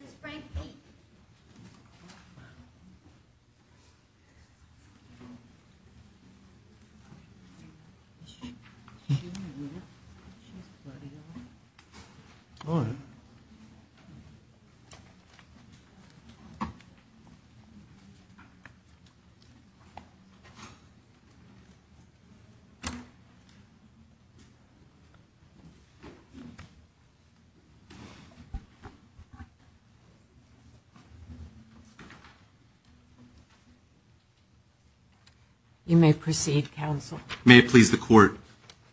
This is Frank Peake. Is she really with us? She's bloody alright. Alright. You may proceed, counsel. May it please the court.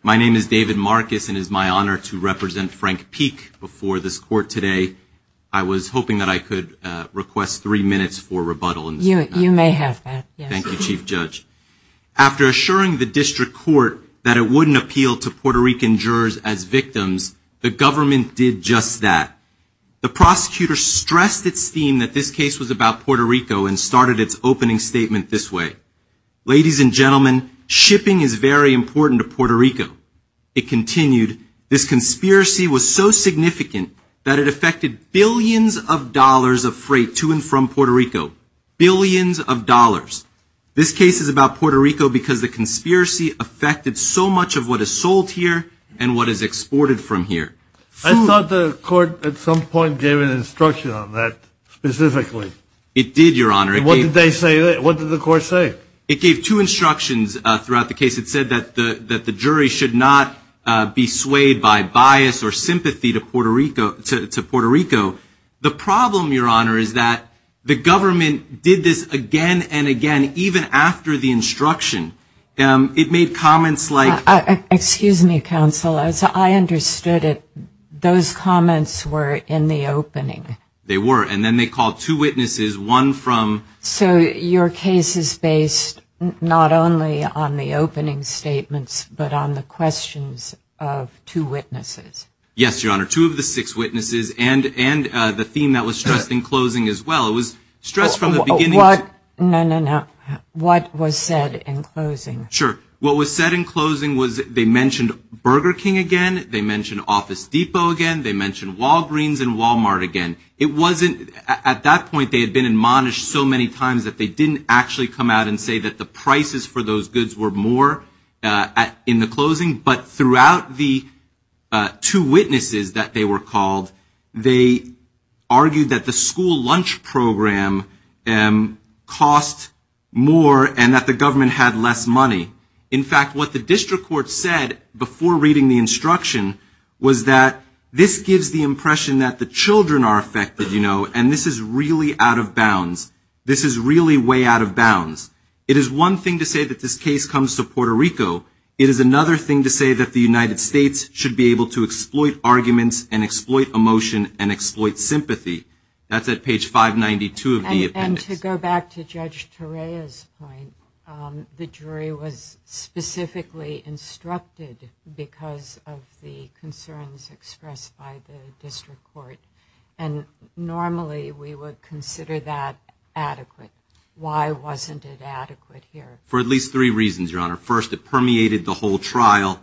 My name is David Marcus and it is my honor to represent Frank Peake before this court today. I was hoping that I could request three minutes for rebuttal. You may have that. Thank you, Chief Judge. After assuring the district court that it wouldn't appeal to Puerto Rican jurors as victims, the government did just that. The prosecutor stressed its theme that this case was about Puerto Rico and started its opening statement this way. Ladies and gentlemen, shipping is very important to Puerto Rico. It continued, this conspiracy was so significant that it affected billions of dollars of freight to and from Puerto Rico. Billions of dollars. This case is about Puerto Rico because the conspiracy affected so much of what is sold here and what is exported from here. I thought the court at some point gave an instruction on that specifically. It did, Your Honor. What did they say? What did the court say? It gave two instructions throughout the case. It said that the jury should not be swayed by bias or sympathy to Puerto Rico. The problem, Your Honor, is that the government did this again and again even after the instruction. It made comments like- Those comments were in the opening. They were, and then they called two witnesses, one from- So your case is based not only on the opening statements but on the questions of two witnesses. Yes, Your Honor, two of the six witnesses and the theme that was stressed in closing as well. It was stressed from the beginning- No, no, no. What was said in closing? Sure. What was said in closing was they mentioned Burger King again, they mentioned Office Depot again, they mentioned Walgreens and Walmart again. It wasn't-at that point they had been admonished so many times that they didn't actually come out and say that the prices for those goods were more in the closing, but throughout the two witnesses that they were called, they argued that the school lunch program cost more and that the government had less money. In fact, what the district court said before reading the instruction was that this gives the impression that the children are affected, you know, and this is really out of bounds. This is really way out of bounds. It is one thing to say that this case comes to Puerto Rico. It is another thing to say that the United States should be able to exploit arguments and exploit emotion and exploit sympathy. That's at page 592 of the appendix. And to go back to Judge Torreya's point, the jury was specifically instructed because of the concerns expressed by the district court, and normally we would consider that adequate. Why wasn't it adequate here? For at least three reasons, Your Honor. First, it permeated the whole trial.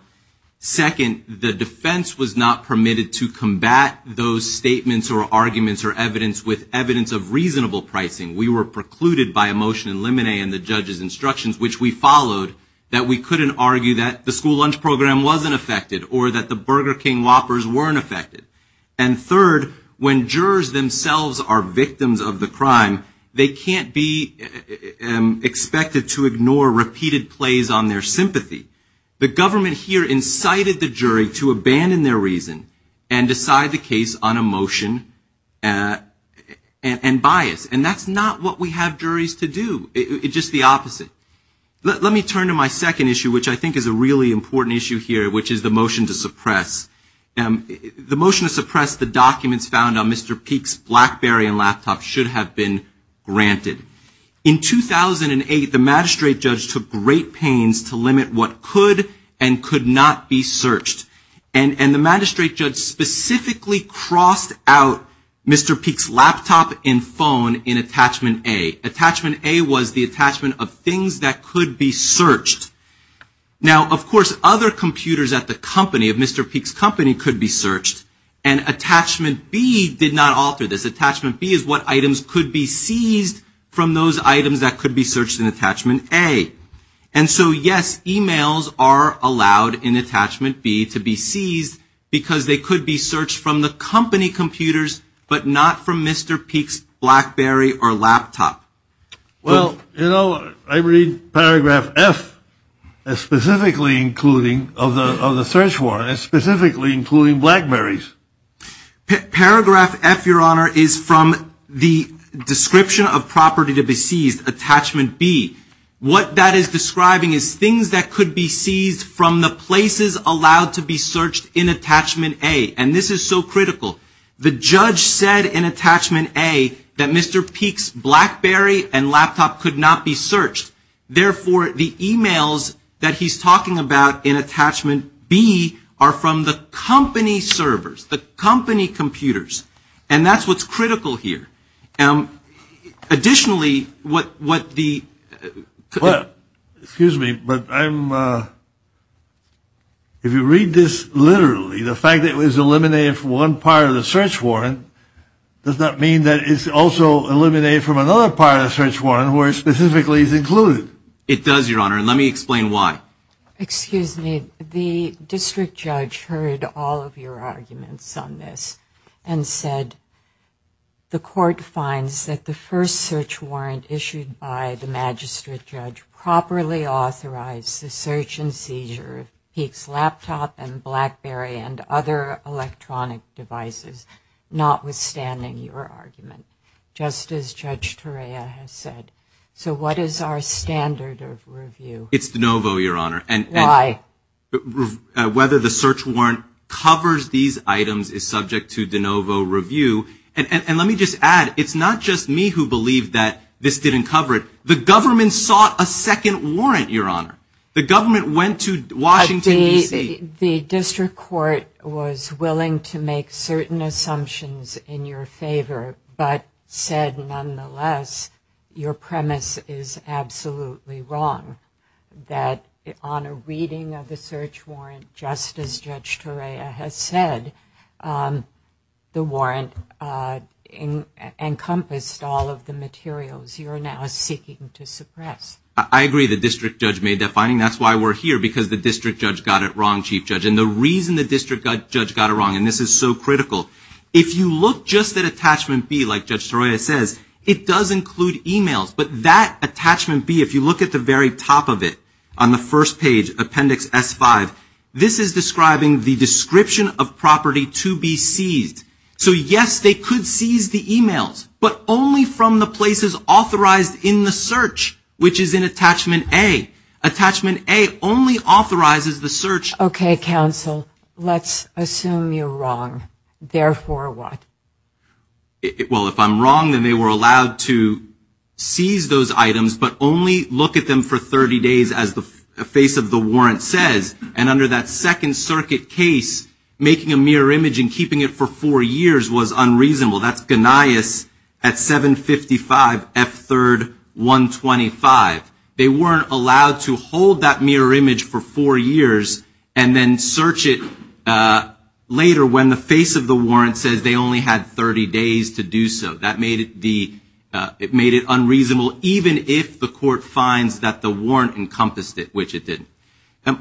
Second, the defense was not permitted to combat those statements or arguments or evidence with evidence of reasonable pricing. We were precluded by emotion and limine and the judge's instructions, which we followed, that we couldn't argue that the school lunch program wasn't affected or that the Burger King Whoppers weren't affected. And third, when jurors themselves are victims of the crime, they can't be expected to ignore repeated plays on their sympathy. The government here incited the jury to abandon their reason and decide the case on emotion and bias. And that's not what we have juries to do. It's just the opposite. Let me turn to my second issue, which I think is a really important issue here, which is the motion to suppress. The motion to suppress the documents found on Mr. Peek's BlackBerry and laptop should have been granted. In 2008, the magistrate judge took great pains to limit what could and could not be searched. And the magistrate judge specifically crossed out Mr. Peek's laptop and phone in attachment A. Attachment A was the attachment of things that could be searched. Now, of course, other computers at the company, at Mr. Peek's company, could be searched. And attachment B did not alter this. Attachment B is what items could be seized from those items that could be searched in attachment A. And so, yes, e-mails are allowed in attachment B to be seized because they could be searched from the company computers, but not from Mr. Peek's BlackBerry or laptop. Well, you know, I read paragraph F of the search warrant as specifically including BlackBerrys. Paragraph F, Your Honor, is from the description of property to be seized, attachment B. What that is describing is things that could be seized from the places allowed to be searched in attachment A. And this is so critical. The judge said in attachment A that Mr. Peek's BlackBerry and laptop could not be searched. Therefore, the e-mails that he's talking about in attachment B are from the company servers. The company computers. And that's what's critical here. Additionally, what the – Well, excuse me, but I'm – if you read this literally, the fact that it was eliminated from one part of the search warrant does not mean that it's also eliminated from another part of the search warrant where it specifically is included. It does, Your Honor, and let me explain why. Excuse me. The district judge heard all of your arguments on this and said, the court finds that the first search warrant issued by the magistrate judge properly authorized the search and seizure of Peek's laptop and BlackBerry and other electronic devices, notwithstanding your argument, just as Judge Torea has said. So what is our standard of review? It's de novo, Your Honor. Why? Whether the search warrant covers these items is subject to de novo review. And let me just add, it's not just me who believed that this didn't cover it. The government sought a second warrant, Your Honor. The government went to Washington, D.C. The district court was willing to make certain assumptions in your favor, but said nonetheless your premise is absolutely wrong, that on a reading of the search warrant, just as Judge Torea has said, the warrant encompassed all of the materials you are now seeking to suppress. I agree the district judge made that finding. That's why we're here, because the district judge got it wrong, Chief Judge. And the reason the district judge got it wrong, and this is so critical, if you look just at Attachment B, like Judge Torea says, it does include e-mails. But that Attachment B, if you look at the very top of it, on the first page, Appendix S5, this is describing the description of property to be seized. So, yes, they could seize the e-mails, but only from the places authorized in the search, which is in Attachment A. Attachment A only authorizes the search. Okay, counsel, let's assume you're wrong. Therefore what? Well, if I'm wrong, then they were allowed to seize those items, but only look at them for 30 days, as the face of the warrant says. And under that Second Circuit case, making a mirror image and keeping it for four years was unreasonable. That's Gnaeus at 755 F3rd 125. They weren't allowed to hold that mirror image for four years and then search it later when the face of the warrant says they only had 30 days to do so. That made it unreasonable, even if the court finds that the warrant encompassed it, which it didn't.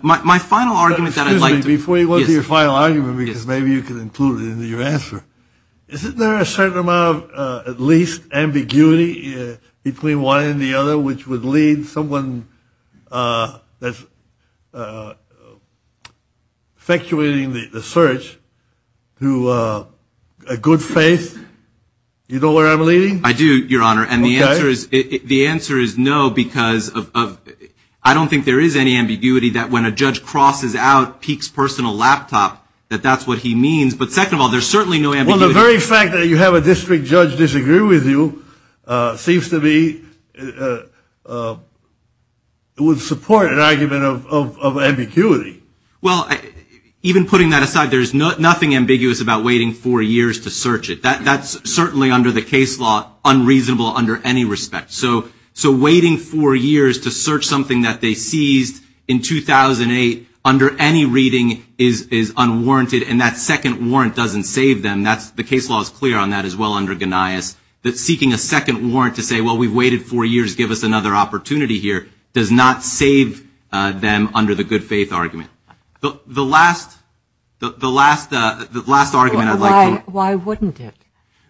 My final argument that I'd like to – Excuse me. Before you go into your final argument, because maybe you can include it in your answer, isn't there a certain amount of at least ambiguity between one and the other, which would lead someone that's effectuating the search to a good faith? Do you know where I'm leading? I do, Your Honor. And the answer is no, because of – I don't think there is any ambiguity that when a judge crosses out Peek's personal laptop, that that's what he means. But second of all, there's certainly no ambiguity. Well, the very fact that you have a district judge disagree with you seems to be – would support an argument of ambiguity. Well, even putting that aside, there's nothing ambiguous about waiting four years to search it. That's certainly under the case law unreasonable under any respect. So waiting four years to search something that they seized in 2008 under any reading is unwarranted, and that second warrant doesn't save them. The case law is clear on that as well under Ganias, that seeking a second warrant to say, well, we've waited four years, give us another opportunity here, does not save them under the good faith argument. The last argument I'd like to – Well, why wouldn't it?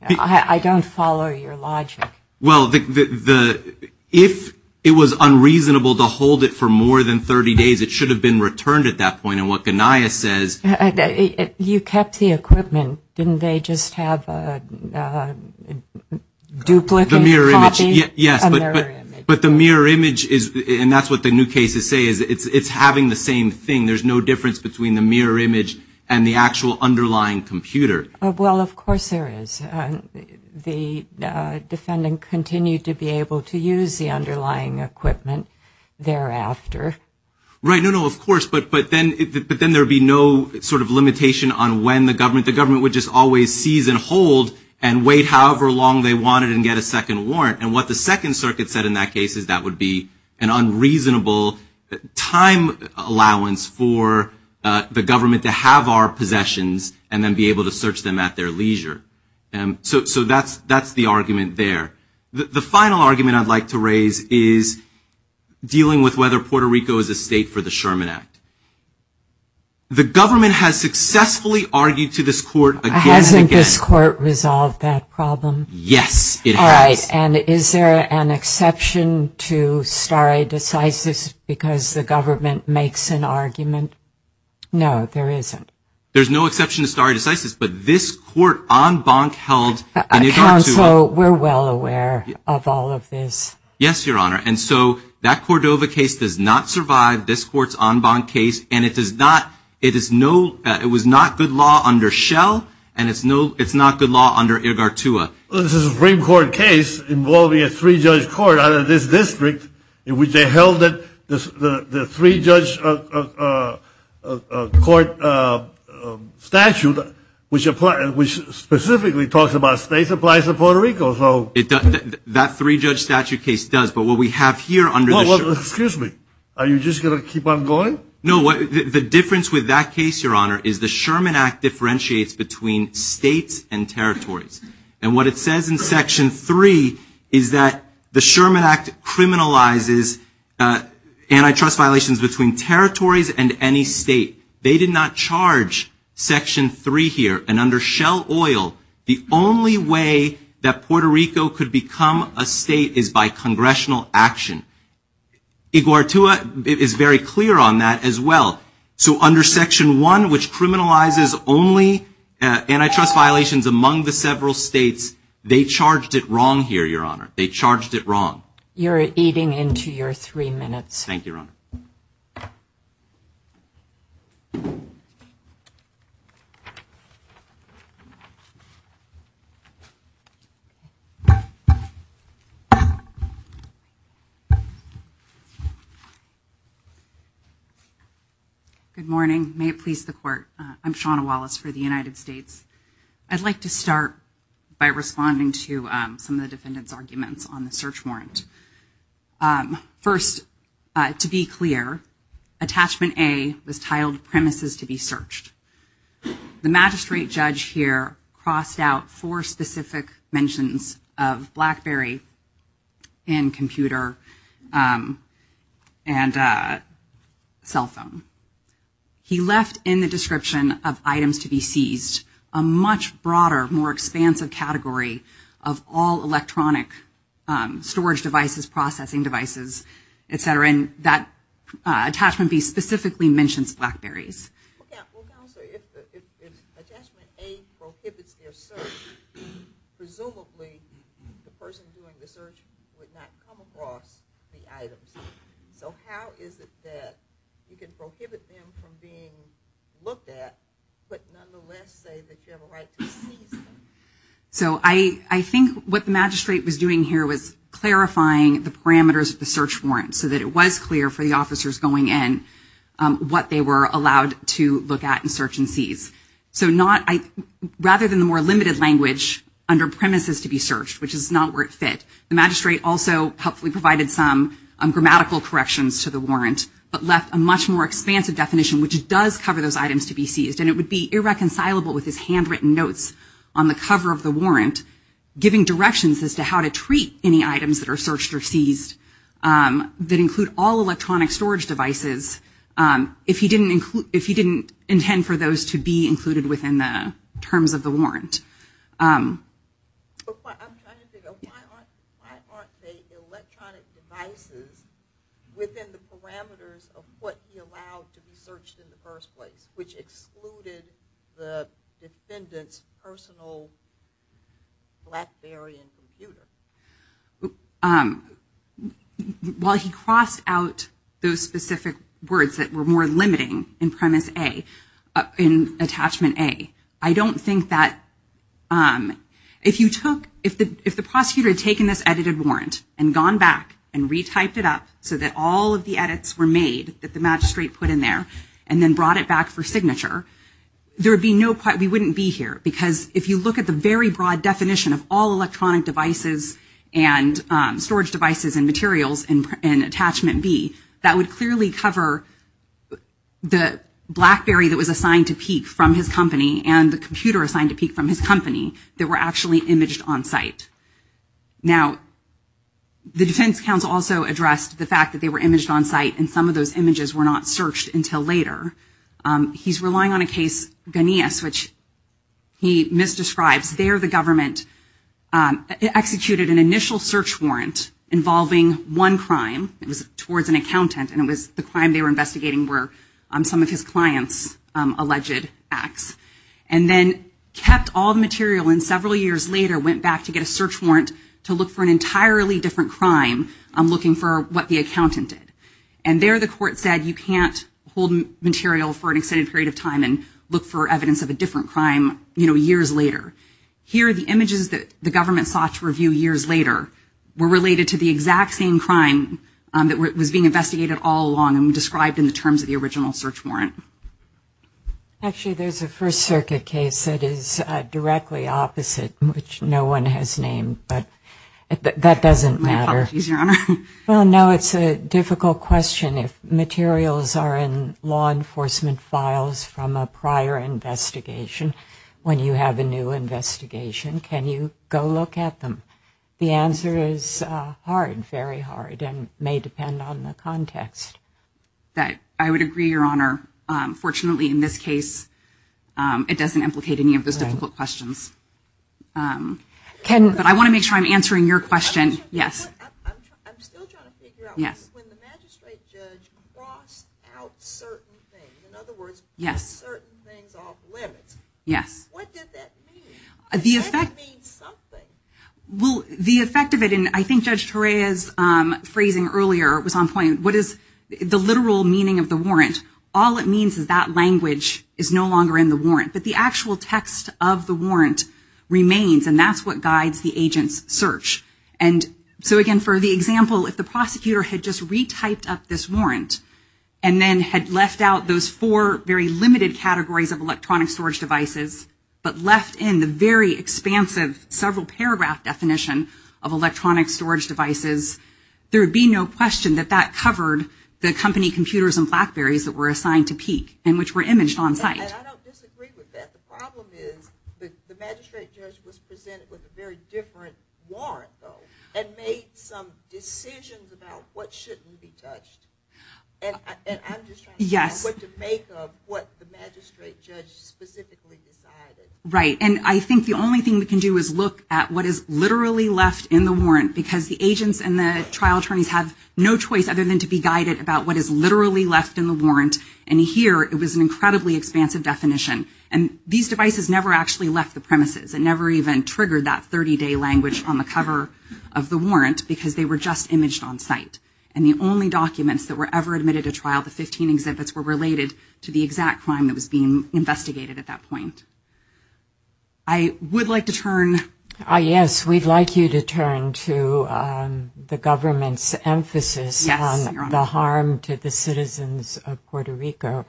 I don't follow your logic. Well, if it was unreasonable to hold it for more than 30 days, it should have been returned at that point. And what Ganias says – You kept the equipment. Didn't they just have a duplicate copy? Yes, but the mirror image is – and that's what the new cases say is it's having the same thing. There's no difference between the mirror image and the actual underlying computer. Well, of course there is. The defendant continued to be able to use the underlying equipment thereafter. Right, no, no, of course, but then there would be no sort of limitation on when the government – the government would just always seize and hold and wait however long they wanted and get a second warrant. And what the Second Circuit said in that case is that would be an unreasonable time allowance for the government to have our possessions and then be able to search them at their leisure. So that's the argument there. The final argument I'd like to raise is dealing with whether Puerto Rico is a state for the Sherman Act. The government has successfully argued to this court again and again. Hasn't this court resolved that problem? Yes, it has. All right, and is there an exception to stare decisis because the government makes an argument? No, there isn't. There's no exception to stare decisis, but this court en banc held – Counsel, we're well aware of all of this. Yes, Your Honor, and so that Cordova case does not survive this court's en banc case, and it does not – it is no – it was not good law under Schell, and it's not good law under Irgartua. Well, this is a Supreme Court case involving a three-judge court out of this district in which they held that the three-judge court statute, which specifically talks about states applies to Puerto Rico, so – That three-judge statute case does, but what we have here under the – Well, excuse me. Are you just going to keep on going? No, the difference with that case, Your Honor, is the Sherman Act differentiates between states and territories, and what it says in Section 3 is that the Sherman Act criminalizes antitrust violations between territories and any state. They did not charge Section 3 here, and under Schell Oil, the only way that Puerto Rico could become a state is by congressional action. Irgartua is very clear on that as well. So under Section 1, which criminalizes only antitrust violations among the several states, they charged it wrong here, Your Honor. They charged it wrong. Thank you, Your Honor. Thank you. Good morning. May it please the Court, I'm Shawna Wallace for the United States. I'd like to start by responding to some of the defendants' arguments on the search warrant. First, to be clear, Attachment A was titled Premises to be Searched. The magistrate judge here crossed out four specific mentions of BlackBerry and computer and cell phone. He left in the description of items to be seized a much broader, more expansive category of all electronic storage devices, processing devices, et cetera. And that Attachment B specifically mentions BlackBerrys. Well, Counselor, if Attachment A prohibits their search, presumably the person doing the search would not come across the items. So how is it that you can prohibit them from being looked at, but nonetheless say that you have a right to seize them? So I think what the magistrate was doing here was clarifying the parameters of the search warrant so that it was clear for the officers going in what they were allowed to look at and search and seize. So rather than the more limited language under Premises to be Searched, which is not where it fit, the magistrate also helpfully provided some grammatical corrections to the warrant, but left a much more expansive definition, which does cover those items to be seized. And it would be irreconcilable with his handwritten notes on the cover of the warrant, giving directions as to how to treat any items that are searched or seized that include all electronic storage devices, if he didn't intend for those to be included within the terms of the warrant. Why aren't they electronic devices within the parameters of what he allowed to be searched in the first place, which excluded the defendant's personal Blackberry and computer? While he crossed out those specific words that were more limiting in Premise A, in Attachment A, I don't think that if the prosecutor had taken this edited warrant and gone back and retyped it up so that all of the edits were made that the magistrate put in there and then brought it back for signature, we wouldn't be here. Because if you look at the very broad definition of all electronic devices and storage devices and materials in Attachment B, that would clearly cover the Blackberry that was assigned to Peek from his company and the computer assigned to Peek from his company that were actually imaged on site. Now, the defense counsel also addressed the fact that they were imaged on site and some of those images were not searched until later. He's relying on a case, Ganeas, which he misdescribes. There the government executed an initial search warrant involving one crime. It was towards an accountant and it was the crime they were investigating were some of his client's alleged acts and then kept all the material and several years later went back to get a search warrant to look for an entirely different crime looking for what the accountant did. And there the court said you can't hold material for an extended period of time and look for evidence of a different crime, you know, years later. Here the images that the government sought to review years later were related to the exact same crime that was being investigated all along and described in the terms of the original search warrant. Actually, there's a First Circuit case that is directly opposite, which no one has named, but that doesn't matter. My apologies, Your Honor. Well, no, it's a difficult question. If materials are in law enforcement files from a prior investigation, when you have a new investigation, can you go look at them? The answer is hard, very hard, and may depend on the context. I would agree, Your Honor. Fortunately, in this case, it doesn't implicate any of those difficult questions. But I want to make sure I'm answering your question. I'm still trying to figure out, when the magistrate judge crossed out certain things, in other words, put certain things off limits, what did that mean? Did that mean something? Well, the effect of it, and I think Judge Torea's phrasing earlier was on point, what is the literal meaning of the warrant? All it means is that language is no longer in the warrant. But the actual text of the warrant remains, and that's what guides the agent's search. So, again, for the example, if the prosecutor had just retyped up this warrant and then had left out those four very limited categories of electronic storage devices, but left in the very expansive several-paragraph definition of electronic storage devices, there would be no question that that covered the company computers and BlackBerrys that were assigned to Peek and which were imaged on site. I don't disagree with that. The problem is the magistrate judge was presented with a very different warrant, though, and made some decisions about what shouldn't be touched. And I'm just trying to figure out what to make of what the magistrate judge specifically decided. Right. And I think the only thing we can do is look at what is literally left in the warrant, because the agents and the trial attorneys have no choice other than to be guided about what is literally left in the warrant. And here, it was an incredibly expansive definition. And these devices never actually left the premises. It never even triggered that 30-day language on the cover of the warrant, because they were just imaged on site. And the only documents that were ever admitted to trial, the 15 exhibits, were related to the exact crime that was being investigated at that point. I would like to turn. Yes, we'd like you to turn to the government's emphasis on the harm to the citizens of Puerto Rico.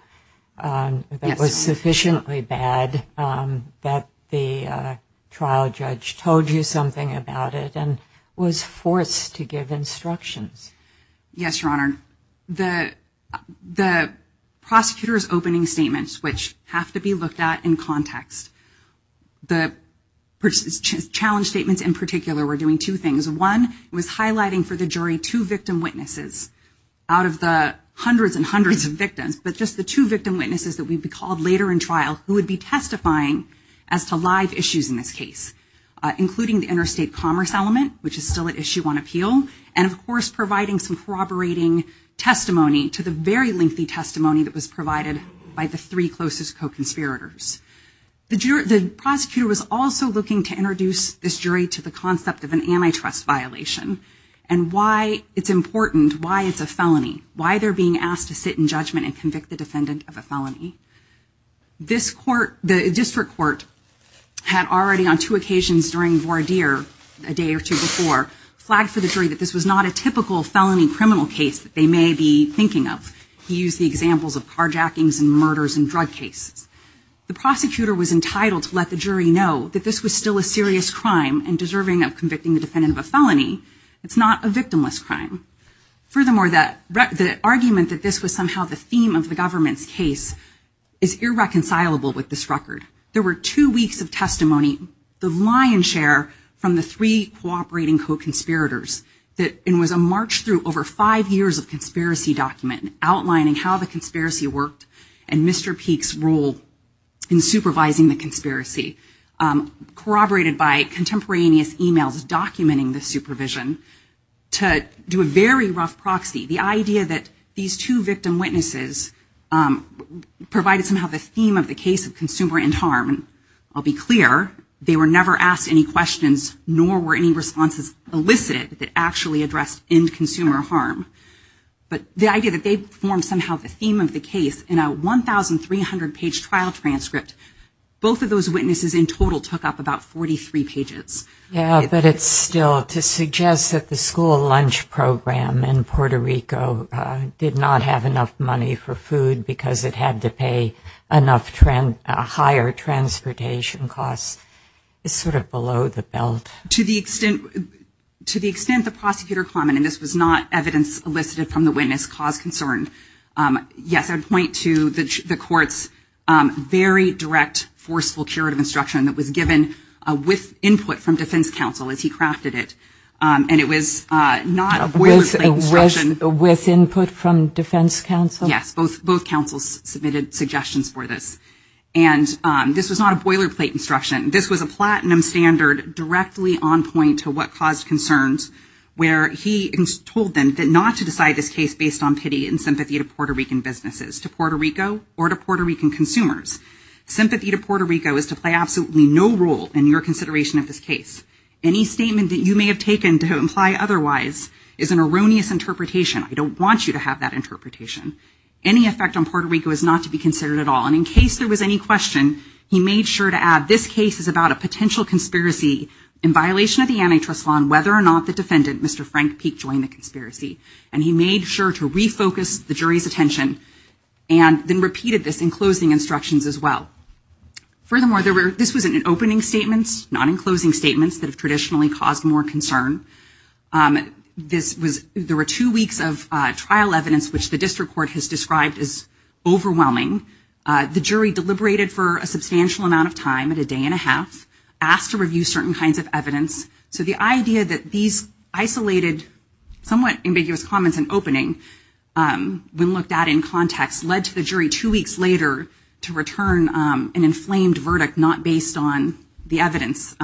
It was sufficiently bad that the trial judge told you something about it and was forced to give instructions. Yes, Your Honor. The prosecutor's opening statements, which have to be looked at in context, the challenge statements in particular were doing two things. One, it was highlighting for the jury two victim witnesses out of the hundreds and hundreds of victims, but just the two victim witnesses that we'd be called later in trial who would be testifying as to live issues in this case, including the interstate commerce element, which is still at issue on appeal, and, of course, providing some corroborating testimony to the very lengthy testimony that was provided by the three closest co-conspirators. The prosecutor was also looking to introduce this jury to the concept of an antitrust violation and why it's important, why it's a felony, why they're being asked to sit in judgment and convict the defendant of a felony. This court, the district court, had already on two occasions during voir dire a day or two before flagged for the jury that this was not a typical felony criminal case that they may be thinking of. He used the examples of carjackings and murders and drug cases. The prosecutor was entitled to let the jury know that this was still a serious crime and deserving of convicting the defendant of a felony. It's not a victimless crime. Furthermore, the argument that this was somehow the theme of the government's case is irreconcilable with this record. There were two weeks of testimony, the lion's share from the three cooperating co-conspirators, and it was a march through over five years of conspiracy document outlining how the conspiracy worked and Mr. Peek's role in supervising the conspiracy, corroborated by contemporaneous emails documenting the supervision, to do a very rough proxy. The idea that these two victim witnesses provided somehow the theme of the case of consumer end harm. I'll be clear, they were never asked any questions, nor were any responses elicited that actually addressed end consumer harm. But the idea that they formed somehow the theme of the case in a 1,300-page trial transcript, both of those witnesses in total took up about 43 pages. Yeah, but it's still, to suggest that the school lunch program in Puerto Rico did not have enough money for food because it had to pay a higher transportation cost, is sort of below the belt. To the extent the prosecutor commented this was not evidence elicited from the witness cause concerned, yes, I'd point to the court's very direct, forceful curative instruction that was given with input from defense counsel as he crafted it. And it was not a boilerplate instruction. With input from defense counsel? Yes, both counsels submitted suggestions for this. And this was not a boilerplate instruction. This was a platinum standard directly on point to what caused concerns, where he told them not to decide this case based on pity and sympathy to Puerto Rican businesses, to Puerto Rico or to Puerto Rican consumers. Sympathy to Puerto Rico is to play absolutely no role in your consideration of this case. Any statement that you may have taken to imply otherwise is an erroneous interpretation. I don't want you to have that interpretation. Any effect on Puerto Rico is not to be considered at all. And in case there was any question, he made sure to add this case is about a potential conspiracy in violation of the antitrust law on whether or not the defendant, Mr. Frank Peek, joined the conspiracy. And he made sure to refocus the jury's attention and then repeated this in closing instructions as well. Furthermore, this was in opening statements, not in closing statements, that have traditionally caused more concern. There were two weeks of trial evidence, which the district court has described as overwhelming. The jury deliberated for a substantial amount of time at a day and a half, asked to review certain kinds of evidence. So the idea that these isolated, somewhat ambiguous comments in opening, when looked at in context, led to the jury two weeks later to return an inflamed verdict not based on the evidence.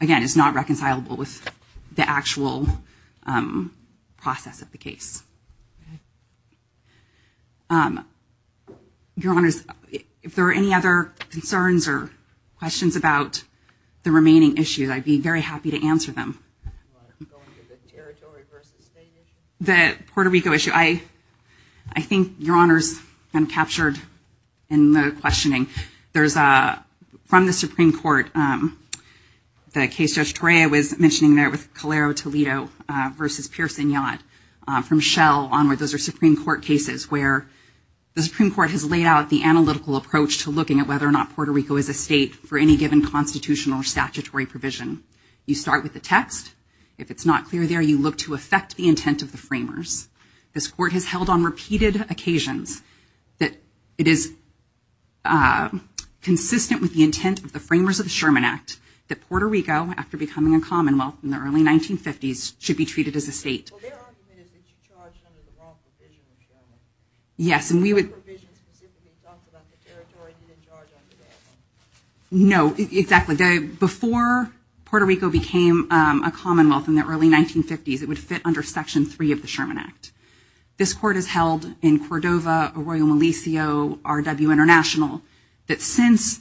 Again, it's not reconcilable with the actual process of the case. Your Honors, if there are any other concerns or questions about the remaining issues, I'd be very happy to answer them. The Puerto Rico issue. I think, Your Honors, I'm captured in the questioning. From the Supreme Court, the case Judge Torrea was mentioning there with Calero Toledo versus Pearson Yacht. From Shell onward, those are Supreme Court cases where the Supreme Court has laid out the analytical approach to looking at whether or not Puerto Rico is a state for any given constitutional or statutory provision. You start with the text. If it's not clear there, you look to affect the intent of the framers. This Court has held on repeated occasions that it is consistent with the intent of the Framers of the Sherman Act that Puerto Rico, after becoming a commonwealth in the early 1950s, should be treated as a state. Well, their argument is that you charge under the wrong provision in Sherman. Yes, and we would... The wrong provision specifically talks about the territory you didn't charge under that one. No, exactly. Before Puerto Rico became a commonwealth in the early 1950s, it would fit under Section 3 of the Sherman Act. This Court has held in Cordova, Arroyo Malicio, R.W. International, that since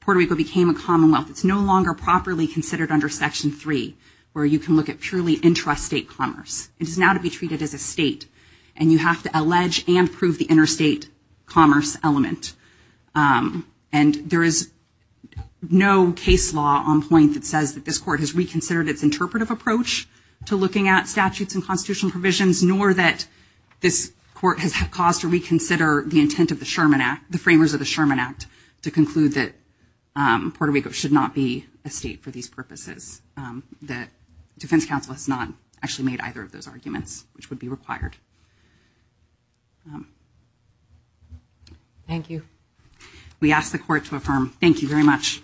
Puerto Rico became a commonwealth, it's no longer properly considered under Section 3, where you can look at purely intrastate commerce. It is now to be treated as a state, and you have to allege and prove the interstate commerce element. And there is no case law on point that says that this Court has reconsidered its interpretive approach to looking at statutes and constitutional provisions, nor that this Court has caused to reconsider the intent of the Framers of the Sherman Act to conclude that Puerto Rico should not be a state for these purposes, that Defense Counsel has not actually made either of those arguments, which would be required. Thank you. We ask the Court to affirm. Thank you very much.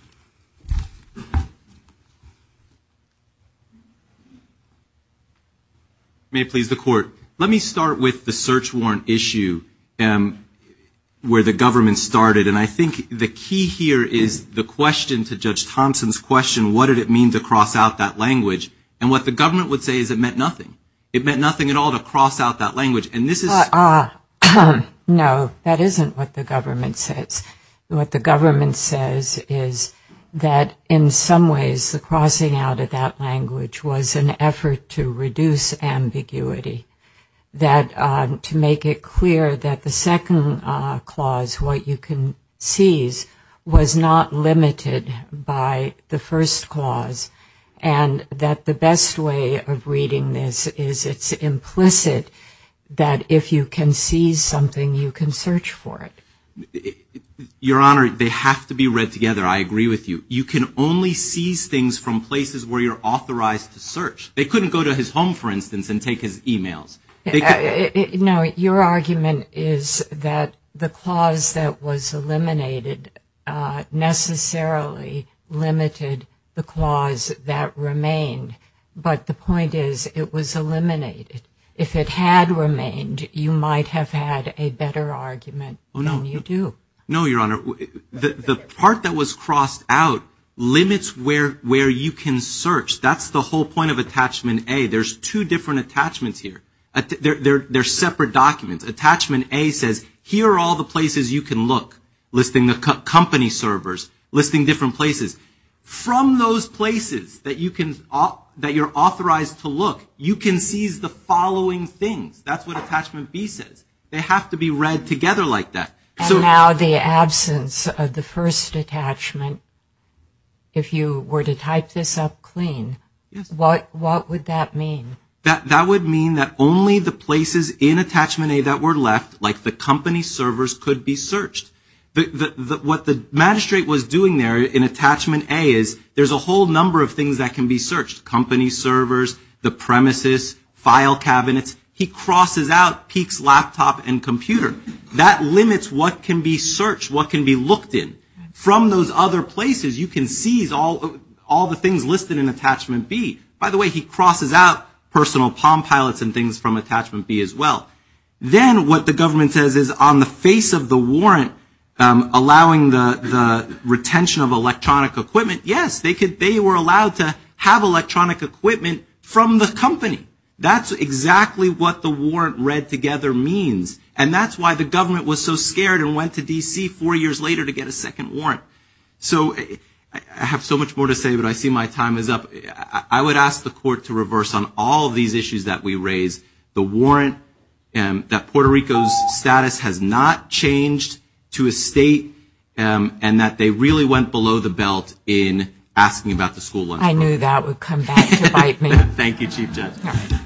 May it please the Court. Let me start with the search warrant issue where the government started. And I think the key here is the question to Judge Thompson's question, what did it mean to cross out that language? And what the government would say is it meant nothing. It meant nothing at all to cross out that language. And this is ‑‑ No, that isn't what the government says. What the government says is that in some ways the crossing out of that language was an effort to reduce ambiguity, to make it clear that the second clause, what you can seize, was not limited by the first clause, and that the best way of reading this is it's implicit that if you can seize something, you can search for it. Your Honor, they have to be read together. I agree with you. You can only seize things from places where you're authorized to search. They couldn't go to his home, for instance, and take his e‑mails. No, your argument is that the clause that was eliminated necessarily limited the clause that remained. But the point is it was eliminated. If it had remained, you might have had a better argument than you do. No, your Honor. The part that was crossed out limits where you can search. That's the whole point of attachment A. There's two different attachments here. They're separate documents. Attachment A says here are all the places you can look, listing the company servers, listing different places. From those places that you're authorized to look, you can seize the following things. That's what attachment B says. They have to be read together like that. And now the absence of the first attachment. If you were to type this up clean, what would that mean? That would mean that only the places in attachment A that were left, like the company servers, could be searched. What the magistrate was doing there in attachment A is there's a whole number of things that can be searched. Company servers, the premises, file cabinets. He crosses out Peek's laptop and computer. That limits what can be searched, what can be looked in. From those other places, you can seize all the things listed in attachment B. By the way, he crosses out personal palm pilots and things from attachment B as well. Then what the government says is on the face of the warrant, allowing the retention of electronic equipment, yes, they were allowed to have electronic equipment from the company. That's exactly what the warrant read together means. And that's why the government was so scared and went to D.C. four years later to get a second warrant. So I have so much more to say, but I see my time is up. I would ask the court to reverse on all these issues that we raised. The warrant that Puerto Rico's status has not changed to a state and that they really went below the belt in asking about the school lunch program. I knew that would come back to bite me. Thank you, Chief Justice. All right.